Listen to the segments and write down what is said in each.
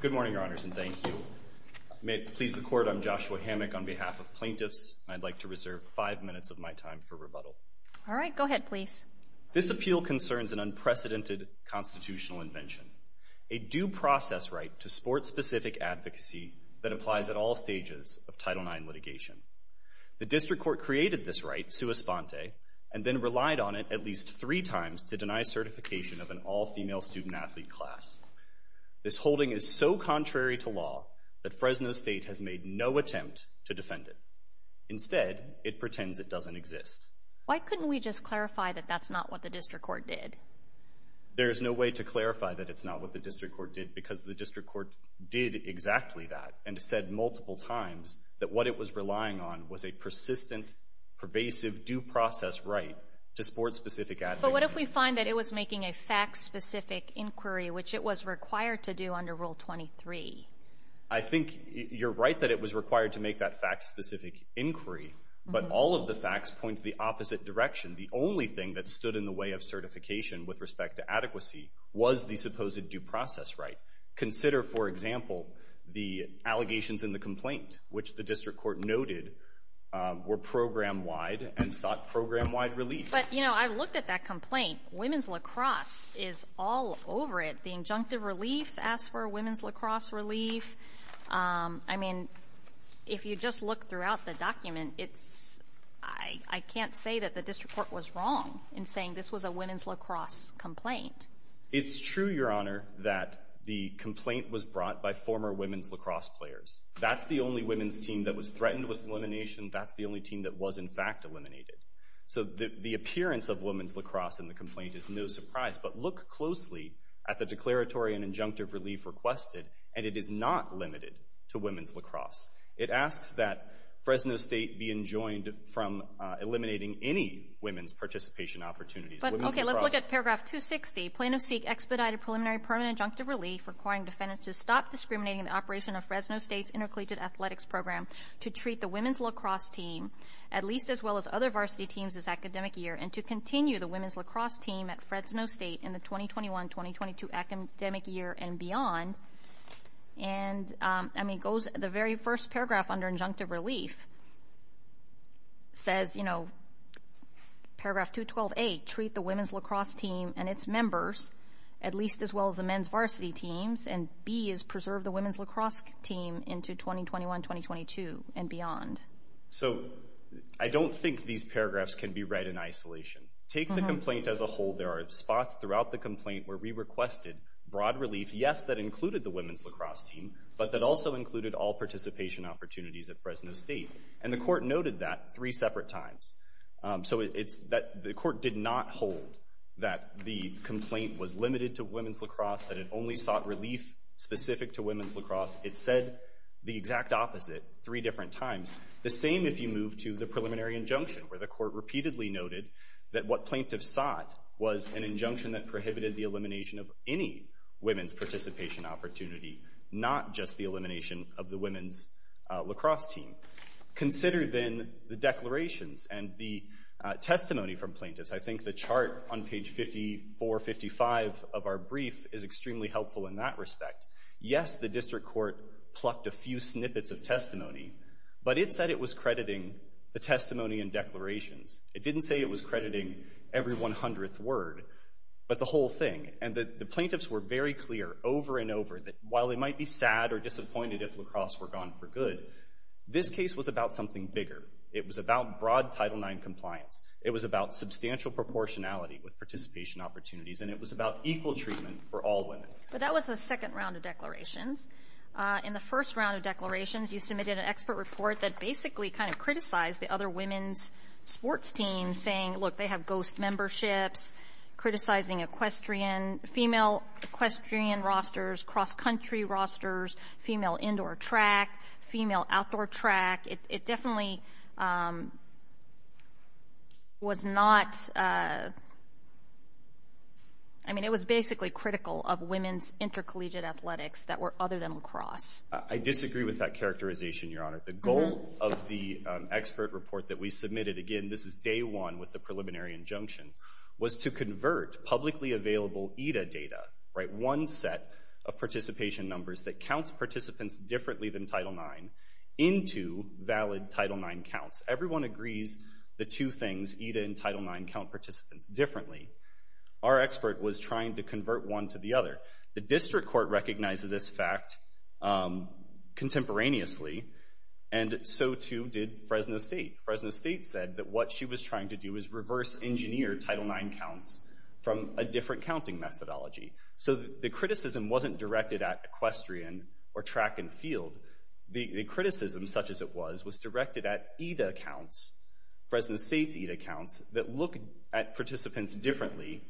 Good morning, Your Honors, and thank you. May it please the Court, I'm Joshua Hammack on behalf of plaintiffs, and I'd like to reserve five minutes of my time for rebuttal. All right, go ahead, please. This appeal concerns an unprecedented constitutional invention, a due process right to sport-specific advocacy that applies at all stages of Title IX litigation. The district court created this right, sua sponte, and then relied on it at least three times to deny certification of an all-female student-athlete class. This holding is so contrary to law that Fresno State has made no attempt to defend it. Instead, it pretends it doesn't exist. Why couldn't we just clarify that that's not what the district court did? There is no way to clarify that it's not what the district court did, because the district court did exactly that, and said multiple times that what it was relying on was a persistent, pervasive due process right to sport-specific advocacy. But what if we find that it was making a fact-specific inquiry, which it was required to do under Rule 23? I think you're right that it was required to make that fact-specific inquiry, but all of the facts point to the opposite direction. The only thing that stood in the way of certification with respect to adequacy was the supposed due process right. Consider, for example, the allegations in the complaint, which the district court noted were program-wide and sought program-wide relief. But, you know, I looked at that complaint. Women's lacrosse is all over it. The injunctive relief asks for women's lacrosse relief. I mean, if you just look throughout the document, I can't say that the district court was wrong in saying this was a women's lacrosse complaint. It's true, Your Honor, that the complaint was brought by former women's lacrosse players. That's the only women's team that was threatened with elimination. That's the only team that was, in fact, eliminated. So the appearance of women's lacrosse in the complaint is no surprise. But look closely at the declaratory and injunctive relief requested, and it is not limited to women's lacrosse. It asks that Fresno State be enjoined from eliminating any women's participation opportunities. Okay, let's look at paragraph 260. Plaintiff seek expedited preliminary permanent injunctive relief requiring defendants to stop discriminating in the operation of Fresno State's intercollegiate athletics program to treat the women's lacrosse team at least as well as other varsity teams this academic year and to continue the women's lacrosse team at Fresno State in the 2021-2022 academic year and beyond. And, I mean, the very first paragraph under injunctive relief says, you know, paragraph 212A, treat the women's lacrosse team and its members at least as well as the men's varsity teams, and B is preserve the women's lacrosse team into 2021-2022 and beyond. So I don't think these paragraphs can be read in isolation. Take the complaint as a whole. There are spots throughout the complaint where we requested broad relief, yes, that included the women's lacrosse team, but that also included all participation opportunities at Fresno State. And the court noted that three separate times. So it's that the court did not hold that the complaint was limited to women's lacrosse, that it only sought relief specific to women's lacrosse. It said the exact opposite three different times. The same if you move to the preliminary injunction where the court repeatedly noted that what plaintiffs sought was an injunction that prohibited the elimination of any women's participation opportunity, not just the elimination of the women's lacrosse team. Consider then the declarations and the testimony from plaintiffs. I think the chart on page 54, 55 of our brief is extremely helpful in that respect. Yes, the district court plucked a few snippets of testimony, but it said it was crediting the testimony and declarations. It didn't say it was crediting every 100th word, but the whole thing. And the plaintiffs were very clear over and over that while they might be sad or disappointed if lacrosse were gone for good, this case was about something bigger. It was about broad Title IX compliance. It was about substantial proportionality with participation opportunities, and it was about equal treatment for all women. But that was the second round of declarations. In the first round of declarations, you submitted an expert report that basically kind of criticized the other women's sports teams saying, look, they have ghost memberships, criticizing equestrian, female equestrian rosters, cross-country rosters, female indoor track, female outdoor track. It definitely was not, I mean, it was basically critical of women's intercollegiate athletics that were other than lacrosse. I disagree with that characterization, Your Honor. The goal of the expert report that we submitted, again, this is day one with the preliminary injunction, was to convert publicly available EDA data, right, one set of participation numbers that counts participants differently than Title IX into valid Title IX counts. Everyone agrees the two things, EDA and Title IX, count participants differently. Our expert was trying to convert one to the other. The district court recognized this fact contemporaneously, and so, too, did Fresno State. Fresno State said that what she was trying to do is reverse engineer Title IX counts from a different counting methodology. So the criticism wasn't directed at equestrian or track and field. The criticism, such as it was, was directed at EDA counts, Fresno State's EDA counts, that look at participants differently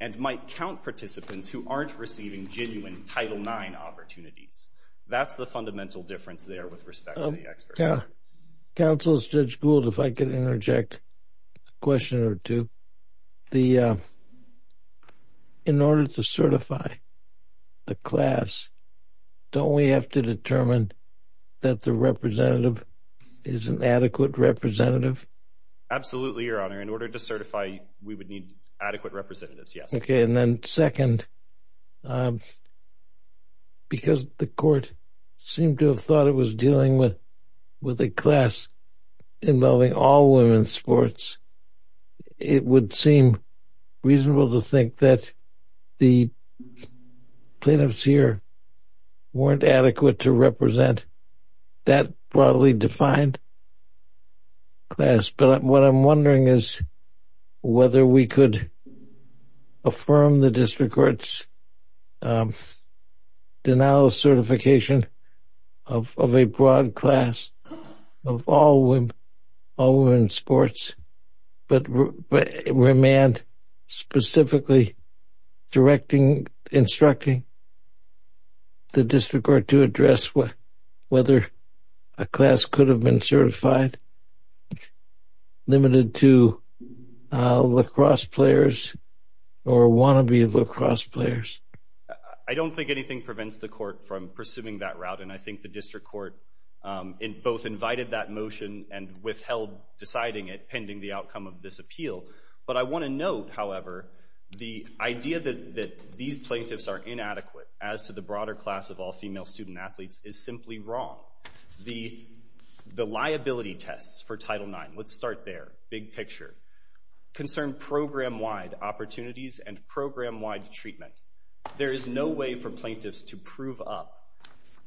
and might count participants who aren't receiving genuine Title IX opportunities. That's the fundamental difference there with respect to the expert report. Counsel, Judge Gould, if I could interject a question or two. In order to certify the class, don't we have to determine that the representative is an adequate representative? Absolutely, Your Honor. In order to certify, we would need adequate representatives, yes. Okay, and then second, because the court seemed to have thought it was dealing with a class involving all women's sports, it would seem reasonable to think that the plaintiffs here weren't adequate to represent that broadly defined class. But what I'm wondering is whether we could affirm the district court's denial of certification of a broad class of all women's sports, but remand specifically directing, instructing the district court to address whether a class could have been certified, limited to lacrosse players or wannabe lacrosse players. I don't think anything prevents the court from pursuing that route, and I think the district court both invited that motion and withheld deciding it pending the outcome of this appeal. But I want to note, however, the idea that these plaintiffs are inadequate as to the broader class of all female student-athletes is simply wrong. The liability tests for Title IX, let's start there, big picture, concern program-wide opportunities and program-wide treatment. There is no way for plaintiffs to prove up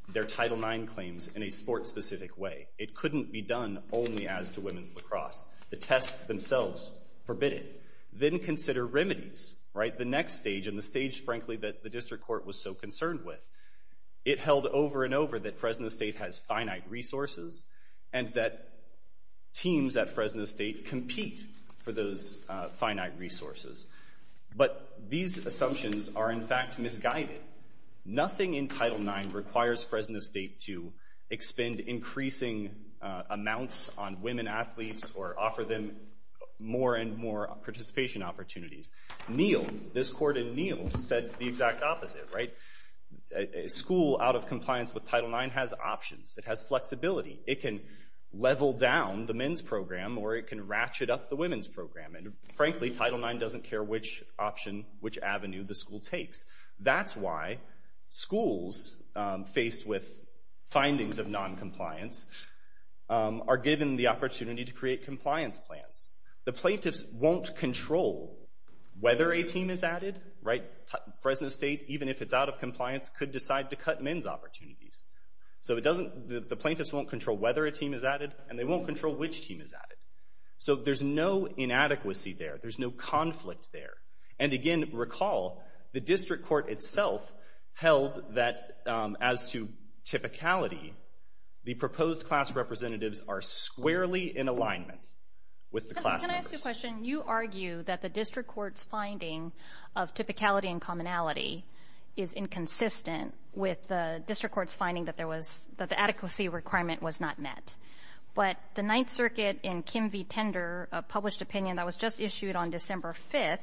their Title IX claims in a sports-specific way. It couldn't be done only as to women's lacrosse. The tests themselves forbid it. Then consider remedies, right, the next stage and the stage, frankly, that the district court was so concerned with. It held over and over that Fresno State has finite resources and that teams at Fresno State compete for those finite resources. But these assumptions are, in fact, misguided. Nothing in Title IX requires Fresno State to expend increasing amounts on women athletes or offer them more and more participation opportunities. Neal, this court in Neal, said the exact opposite, right? A school out of compliance with Title IX has options. It has flexibility. It can level down the men's program or it can ratchet up the women's program. And frankly, Title IX doesn't care which option, which avenue the school takes. That's why schools faced with findings of noncompliance are given the opportunity to create compliance plans. The plaintiffs won't control whether a team is added, right? Fresno State, even if it's out of compliance, could decide to cut men's opportunities. So the plaintiffs won't control whether a team is added and they won't control which team is added. So there's no inadequacy there. There's no conflict there. And, again, recall the district court itself held that, as to typicality, the proposed class representatives are squarely in alignment with the class members. Can I ask you a question? You argue that the district court's finding of typicality and commonality is inconsistent with the district court's finding that the adequacy requirement was not met. But the Ninth Circuit in Kim v. Tender, a published opinion that was just issued on December 5th,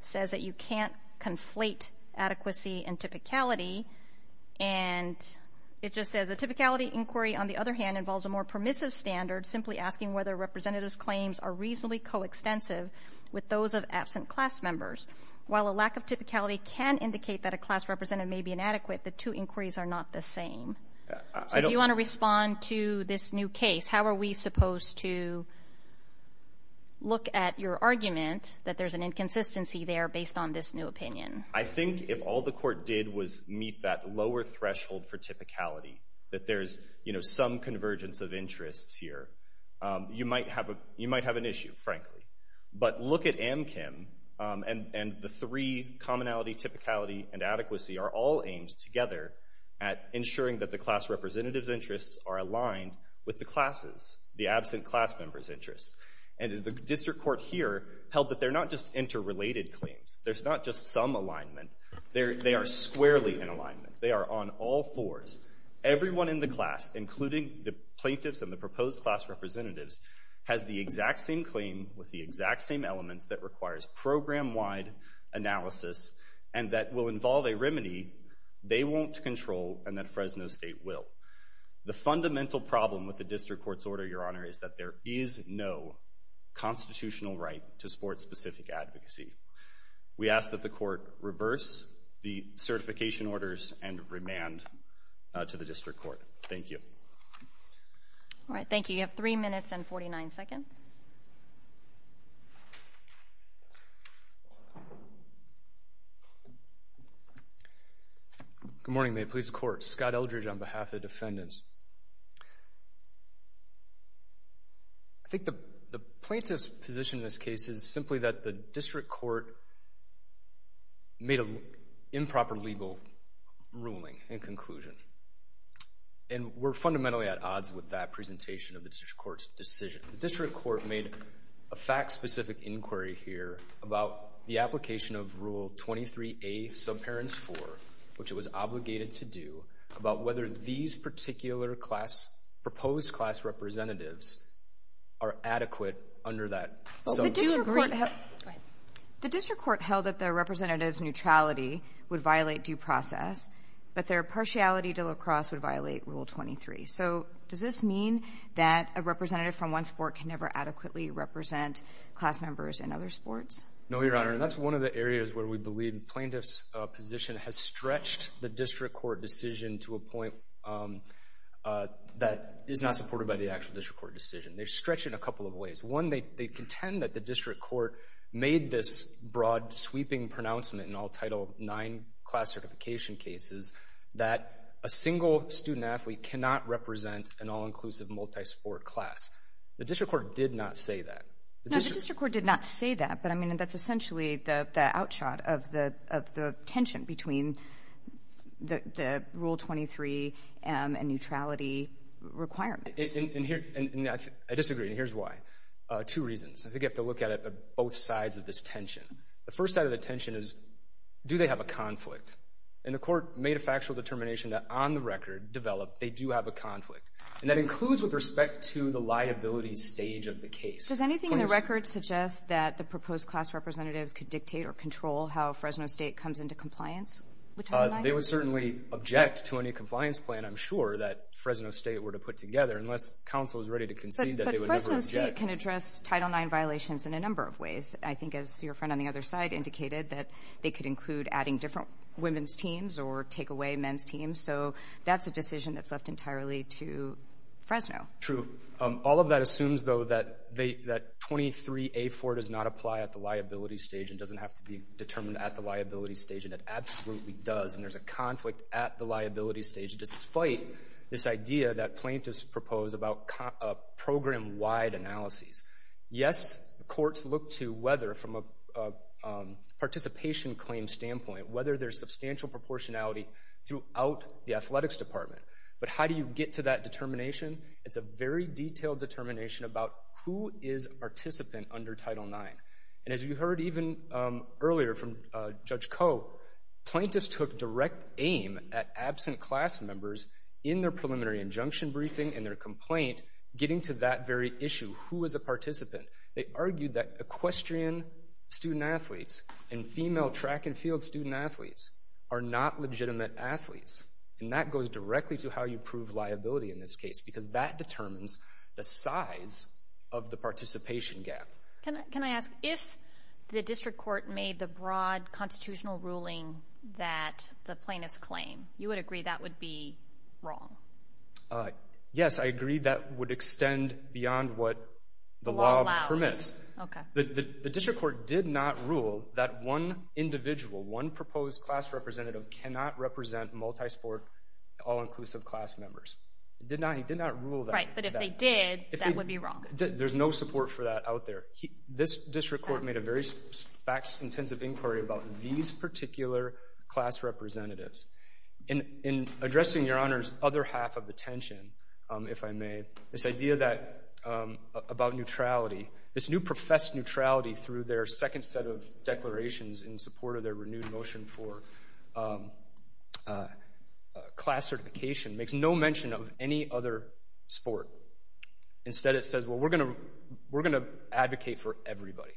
says that you can't conflate adequacy and typicality. And it just says, the typicality inquiry, on the other hand, involves a more permissive standard, simply asking whether representatives' claims are reasonably coextensive with those of absent class members. While a lack of typicality can indicate that a class representative may be inadequate, the two inquiries are not the same. So you want to respond to this new case. How are we supposed to look at your argument that there's an inconsistency there based on this new opinion? I think if all the court did was meet that lower threshold for typicality, that there's some convergence of interests here, you might have an issue, frankly. But look at AmKim, and the three, commonality, typicality, and adequacy, are all aimed together at ensuring that the class representative's interests are aligned with the class's, the absent class member's interests. And the district court here held that they're not just interrelated claims. There's not just some alignment. They are squarely in alignment. They are on all fours. Everyone in the class, including the plaintiffs and the proposed class representatives, has the exact same claim with the exact same elements that requires program-wide analysis and that will involve a remedy they won't control and that Fresno State will. The fundamental problem with the district court's order, Your Honor, is that there is no constitutional right to sport-specific advocacy. We ask that the court reverse the certification orders and remand to the district court. Thank you. All right. Thank you. You have 3 minutes and 49 seconds. Good morning, Mayor of the Police Court. Scott Eldridge on behalf of the defendants. I think the plaintiff's position in this case is simply that the district court made an improper legal ruling and conclusion. And we're fundamentally at odds with that presentation of the district court's decision. The district court made a fact-specific inquiry here about the application of Rule 23A, Subparents 4, which it was obligated to do, about whether these particular proposed class representatives are adequate under that. The district court held that the representatives' neutrality would violate due process, but their partiality to lacrosse would violate Rule 23. So does this mean that a representative from one sport can never adequately represent class members in other sports? No, Your Honor, and that's one of the areas where we believe the plaintiff's position has stretched the district court decision to a point that is not supported by the actual district court decision. They've stretched it a couple of ways. One, they contend that the district court made this broad, sweeping pronouncement in all Title IX class certification cases that a single student athlete cannot represent an all-inclusive multi-sport class. The district court did not say that. No, the district court did not say that, but, I mean, that's essentially the outshot of the tension between the Rule 23 and neutrality requirements. And I disagree, and here's why. Two reasons. I think you have to look at it on both sides of this tension. The first side of the tension is, do they have a conflict? And the court made a factual determination that, on the record, developed they do have a conflict, and that includes with respect to the liability stage of the case. Does anything in the record suggest that the proposed class representatives could dictate or control how Fresno State comes into compliance with Title IX? They would certainly object to any compliance plan, I'm sure, that Fresno State were to put together, unless counsel was ready to concede that they would never object. But Fresno State can address Title IX violations in a number of ways. I think, as your friend on the other side indicated, that they could include adding different women's teams or take away men's teams. So that's a decision that's left entirely to Fresno. True. All of that assumes, though, that 23A4 does not apply at the liability stage and doesn't have to be determined at the liability stage, and it absolutely does, and there's a conflict at the liability stage, despite this idea that plaintiffs propose about program-wide analyses. Yes, courts look to whether, from a participation claim standpoint, whether there's substantial proportionality throughout the athletics department. But how do you get to that determination? It's a very detailed determination about who is a participant under Title IX. And as you heard even earlier from Judge Koh, plaintiffs took direct aim at absent class members in their preliminary injunction briefing and their complaint, getting to that very issue, who is a participant. They argued that equestrian student-athletes and female track and field student-athletes are not legitimate athletes, and that goes directly to how you prove liability in this case, because that determines the size of the participation gap. Can I ask, if the district court made the broad constitutional ruling that the plaintiffs claim, you would agree that would be wrong? Yes, I agree that would extend beyond what the law permits. The district court did not rule that one individual, one proposed class representative, cannot represent multi-sport, all-inclusive class members. He did not rule that. Right, but if they did, that would be wrong. There's no support for that out there. This district court made a very fact-intensive inquiry about these particular class representatives. In addressing, Your Honors, the other half of the tension, if I may, this idea about neutrality, this new professed neutrality through their second set of declarations in support of their renewed motion for class certification makes no mention of any other sport. Instead, it says, well, we're going to advocate for everybody.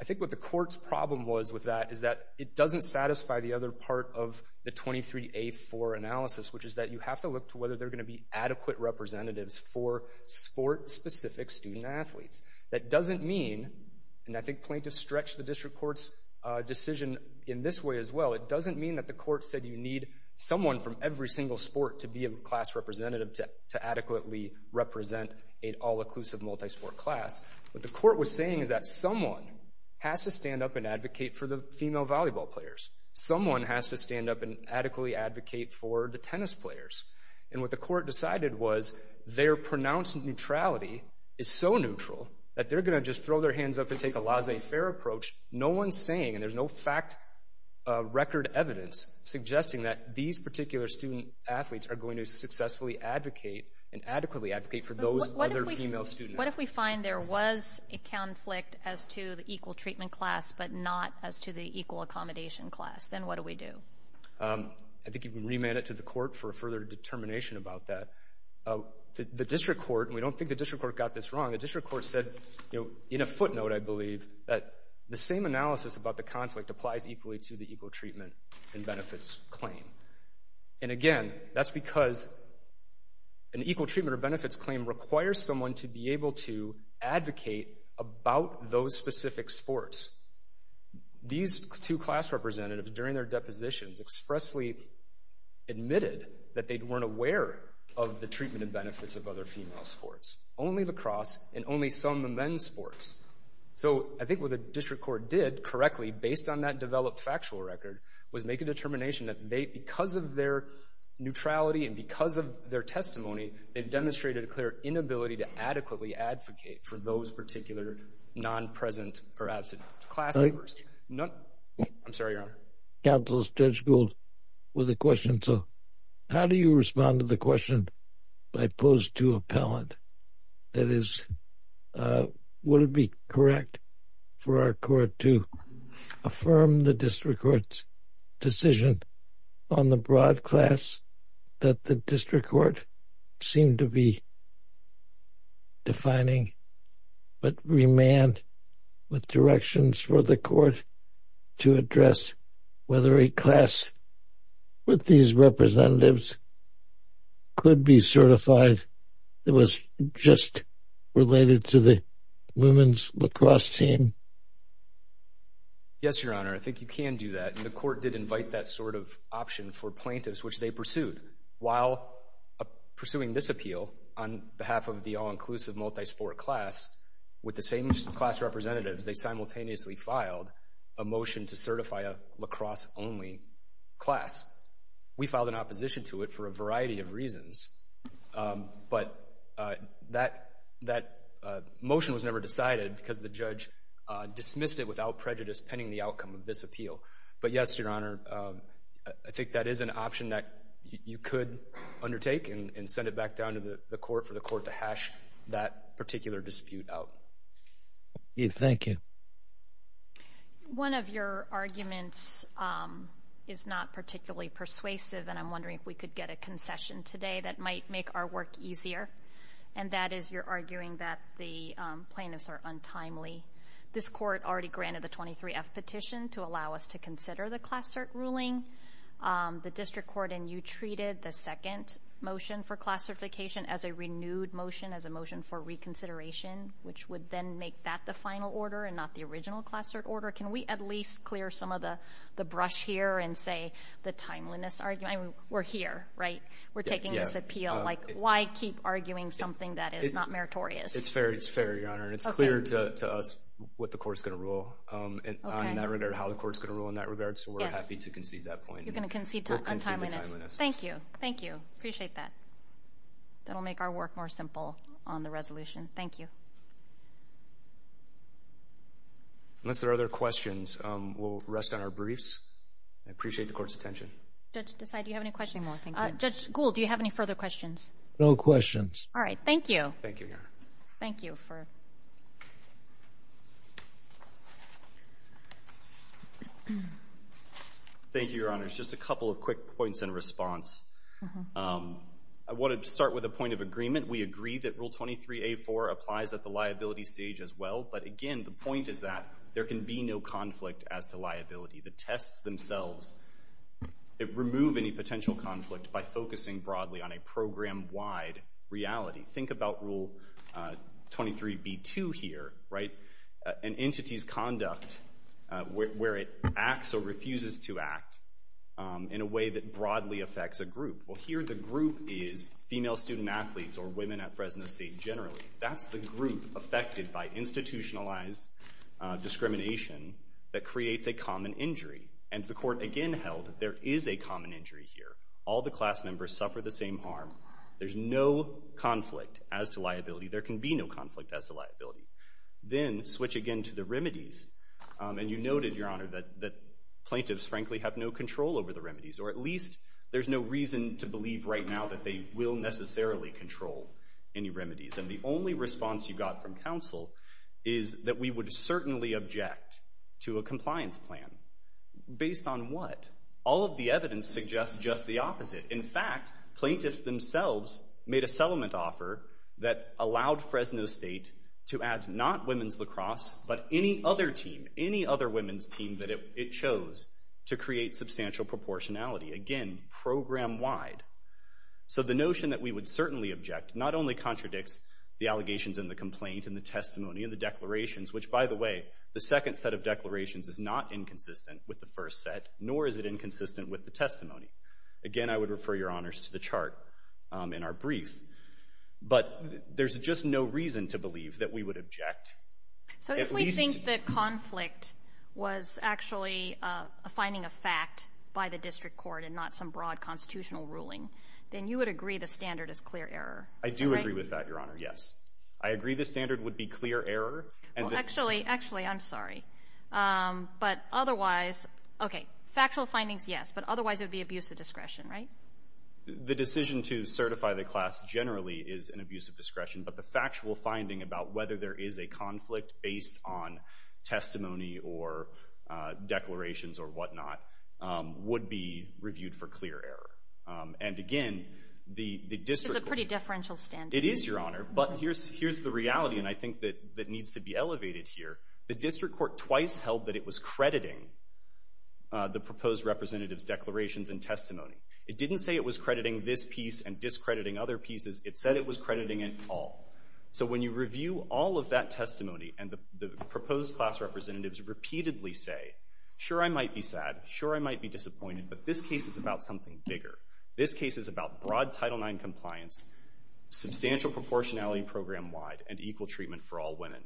I think what the court's problem was with that is that it doesn't satisfy the other part of the 23A4 analysis, which is that you have to look to whether they're going to be adequate representatives for sport-specific student-athletes. That doesn't mean, and I think plaintiffs stretched the district court's decision in this way as well, it doesn't mean that the court said you need someone from every single sport to be a class representative to adequately represent an all-inclusive multi-sport class. What the court was saying is that someone has to stand up and advocate for the female volleyball players. Someone has to stand up and adequately advocate for the tennis players. And what the court decided was their pronounced neutrality is so neutral that they're going to just throw their hands up and take a laissez-faire approach. No one's saying, and there's no fact record evidence suggesting that these particular student-athletes are going to successfully advocate and adequately advocate for those other female students. What if we find there was a conflict as to the equal treatment class but not as to the equal accommodation class? Then what do we do? I think you can remand it to the court for further determination about that. The district court, and we don't think the district court got this wrong, the district court said, you know, in a footnote, I believe, that the same analysis about the conflict applies equally to the equal treatment and benefits claim. And again, that's because an equal treatment or benefits claim requires someone to be able to advocate about those specific sports. These two class representatives, during their depositions, expressly admitted that they weren't aware of the treatment and benefits of other female sports, only lacrosse and only some of the men's sports. So I think what the district court did correctly, based on that developed factual record, was make a determination that they, because of their neutrality and because of their testimony, they've demonstrated a clear inability to adequately advocate for those particular non-present or absent class members. I'm sorry, Your Honor. Counsel, Judge Gould with a question. So how do you respond to the question I posed to Appellant? That is, would it be correct for our court to affirm the district court's decision on the broad class that the district court seemed to be defining, but remand with directions for the court to address whether a class with these representatives could be certified that was just related to the women's lacrosse team? Yes, Your Honor. I think you can do that. And the court did invite that sort of option for plaintiffs, which they pursued. While pursuing this appeal on behalf of the all-inclusive multi-sport class, with the same class representatives, they simultaneously filed a motion to certify a lacrosse-only class. We filed an opposition to it for a variety of reasons, but that motion was never decided because the judge dismissed it without prejudice pending the outcome of this appeal. But yes, Your Honor, I think that is an option that you could undertake and send it back down to the court for the court to hash that particular dispute out. Thank you. One of your arguments is not particularly persuasive, and I'm wondering if we could get a concession today that might make our work easier, and that is you're arguing that the plaintiffs are untimely. This court already granted the 23-F petition to allow us to consider the class cert ruling. The district court and you treated the second motion for classification as a renewed motion, as a motion for reconsideration, which would then make that the final order and not the original class cert order. Can we at least clear some of the brush here and say the timeliness argument? We're here, right? We're taking this appeal. Why keep arguing something that is not meritorious? It's fair, Your Honor, and it's clear to us what the court is going to rule in that regard, how the court is going to rule in that regard, so we're happy to concede that point. You're going to concede untimeliness. We'll concede the timeliness. Thank you. Thank you. Appreciate that. That will make our work more simple on the resolution. Thank you. Unless there are other questions, we'll rest on our briefs. I appreciate the court's attention. Judge Desai, do you have any questions? No, thank you. Judge Gould, do you have any further questions? No questions. All right. Thank you. Thank you, Your Honor. Thank you. Thank you, Your Honor. Just a couple of quick points in response. I want to start with a point of agreement. We agree that Rule 23a.4 applies at the liability stage as well, but again, the point is that there can be no conflict as to liability. The tests themselves remove any potential conflict by focusing broadly on a program-wide reality. Think about Rule 23b.2 here, right? An entity's conduct where it acts or refuses to act in a way that broadly affects a group. Well, here the group is female student-athletes or women at Fresno State generally. That's the group affected by institutionalized discrimination that creates a common injury. And the court again held there is a common injury here. All the class members suffer the same harm. There's no conflict as to liability. There can be no conflict as to liability. Then switch again to the remedies. And you noted, Your Honor, that plaintiffs frankly have no control over the remedies, or at least there's no reason to believe right now that they will necessarily control any remedies. And the only response you got from counsel is that we would certainly object to a compliance plan. Based on what? All of the evidence suggests just the opposite. In fact, plaintiffs themselves made a settlement offer that allowed Fresno State to add not women's lacrosse, but any other team, any other women's team that it chose to create substantial proportionality. Again, program-wide. So the notion that we would certainly object not only contradicts the allegations in the complaint and the testimony and the declarations, which, by the way, the second set of declarations is not inconsistent with the first set, nor is it inconsistent with the testimony. Again, I would refer, Your Honors, to the chart in our brief. But there's just no reason to believe that we would object. So if we think that conflict was actually a finding of fact by the district court and not some broad constitutional ruling, then you would agree the standard is clear error. I do agree with that, Your Honor, yes. I agree the standard would be clear error. Actually, I'm sorry. But otherwise, okay, factual findings, yes, but otherwise it would be abuse of discretion, right? The decision to certify the class generally is an abuse of discretion, but the factual finding about whether there is a conflict based on testimony or declarations or whatnot would be reviewed for clear error. And, again, the district court. It's a pretty differential standard. It is, Your Honor. But here's the reality, and I think that needs to be elevated here. The district court twice held that it was crediting the proposed representative's declarations and testimony. It didn't say it was crediting this piece and discrediting other pieces. It said it was crediting it all. So when you review all of that testimony and the proposed class representatives repeatedly say, sure, I might be sad, sure, I might be disappointed, but this case is about something bigger. This case is about broad Title IX compliance, substantial proportionality program-wide, and equal treatment for all women.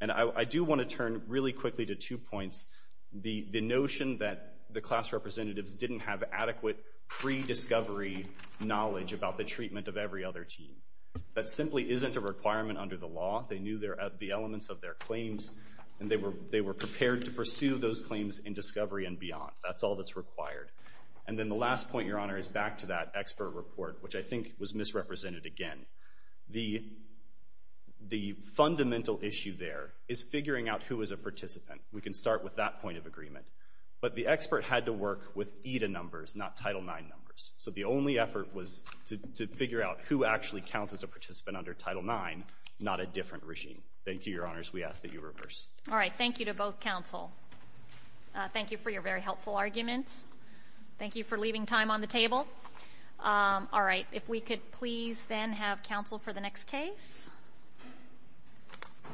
And I do want to turn really quickly to two points. The notion that the class representatives didn't have adequate pre-discovery knowledge about the treatment of every other team. That simply isn't a requirement under the law. They knew the elements of their claims, and they were prepared to pursue those claims in discovery and beyond. That's all that's required. And then the last point, Your Honor, is back to that expert report, which I think was misrepresented again. The fundamental issue there is figuring out who is a participant. We can start with that point of agreement. But the expert had to work with EDA numbers, not Title IX numbers. So the only effort was to figure out who actually counts as a participant under Title IX, not a different regime. Thank you, Your Honors. We ask that you reverse. All right. Thank you to both counsel. Thank you for your very helpful arguments. Thank you for leaving time on the table. All right. If we could please then have counsel for the next case.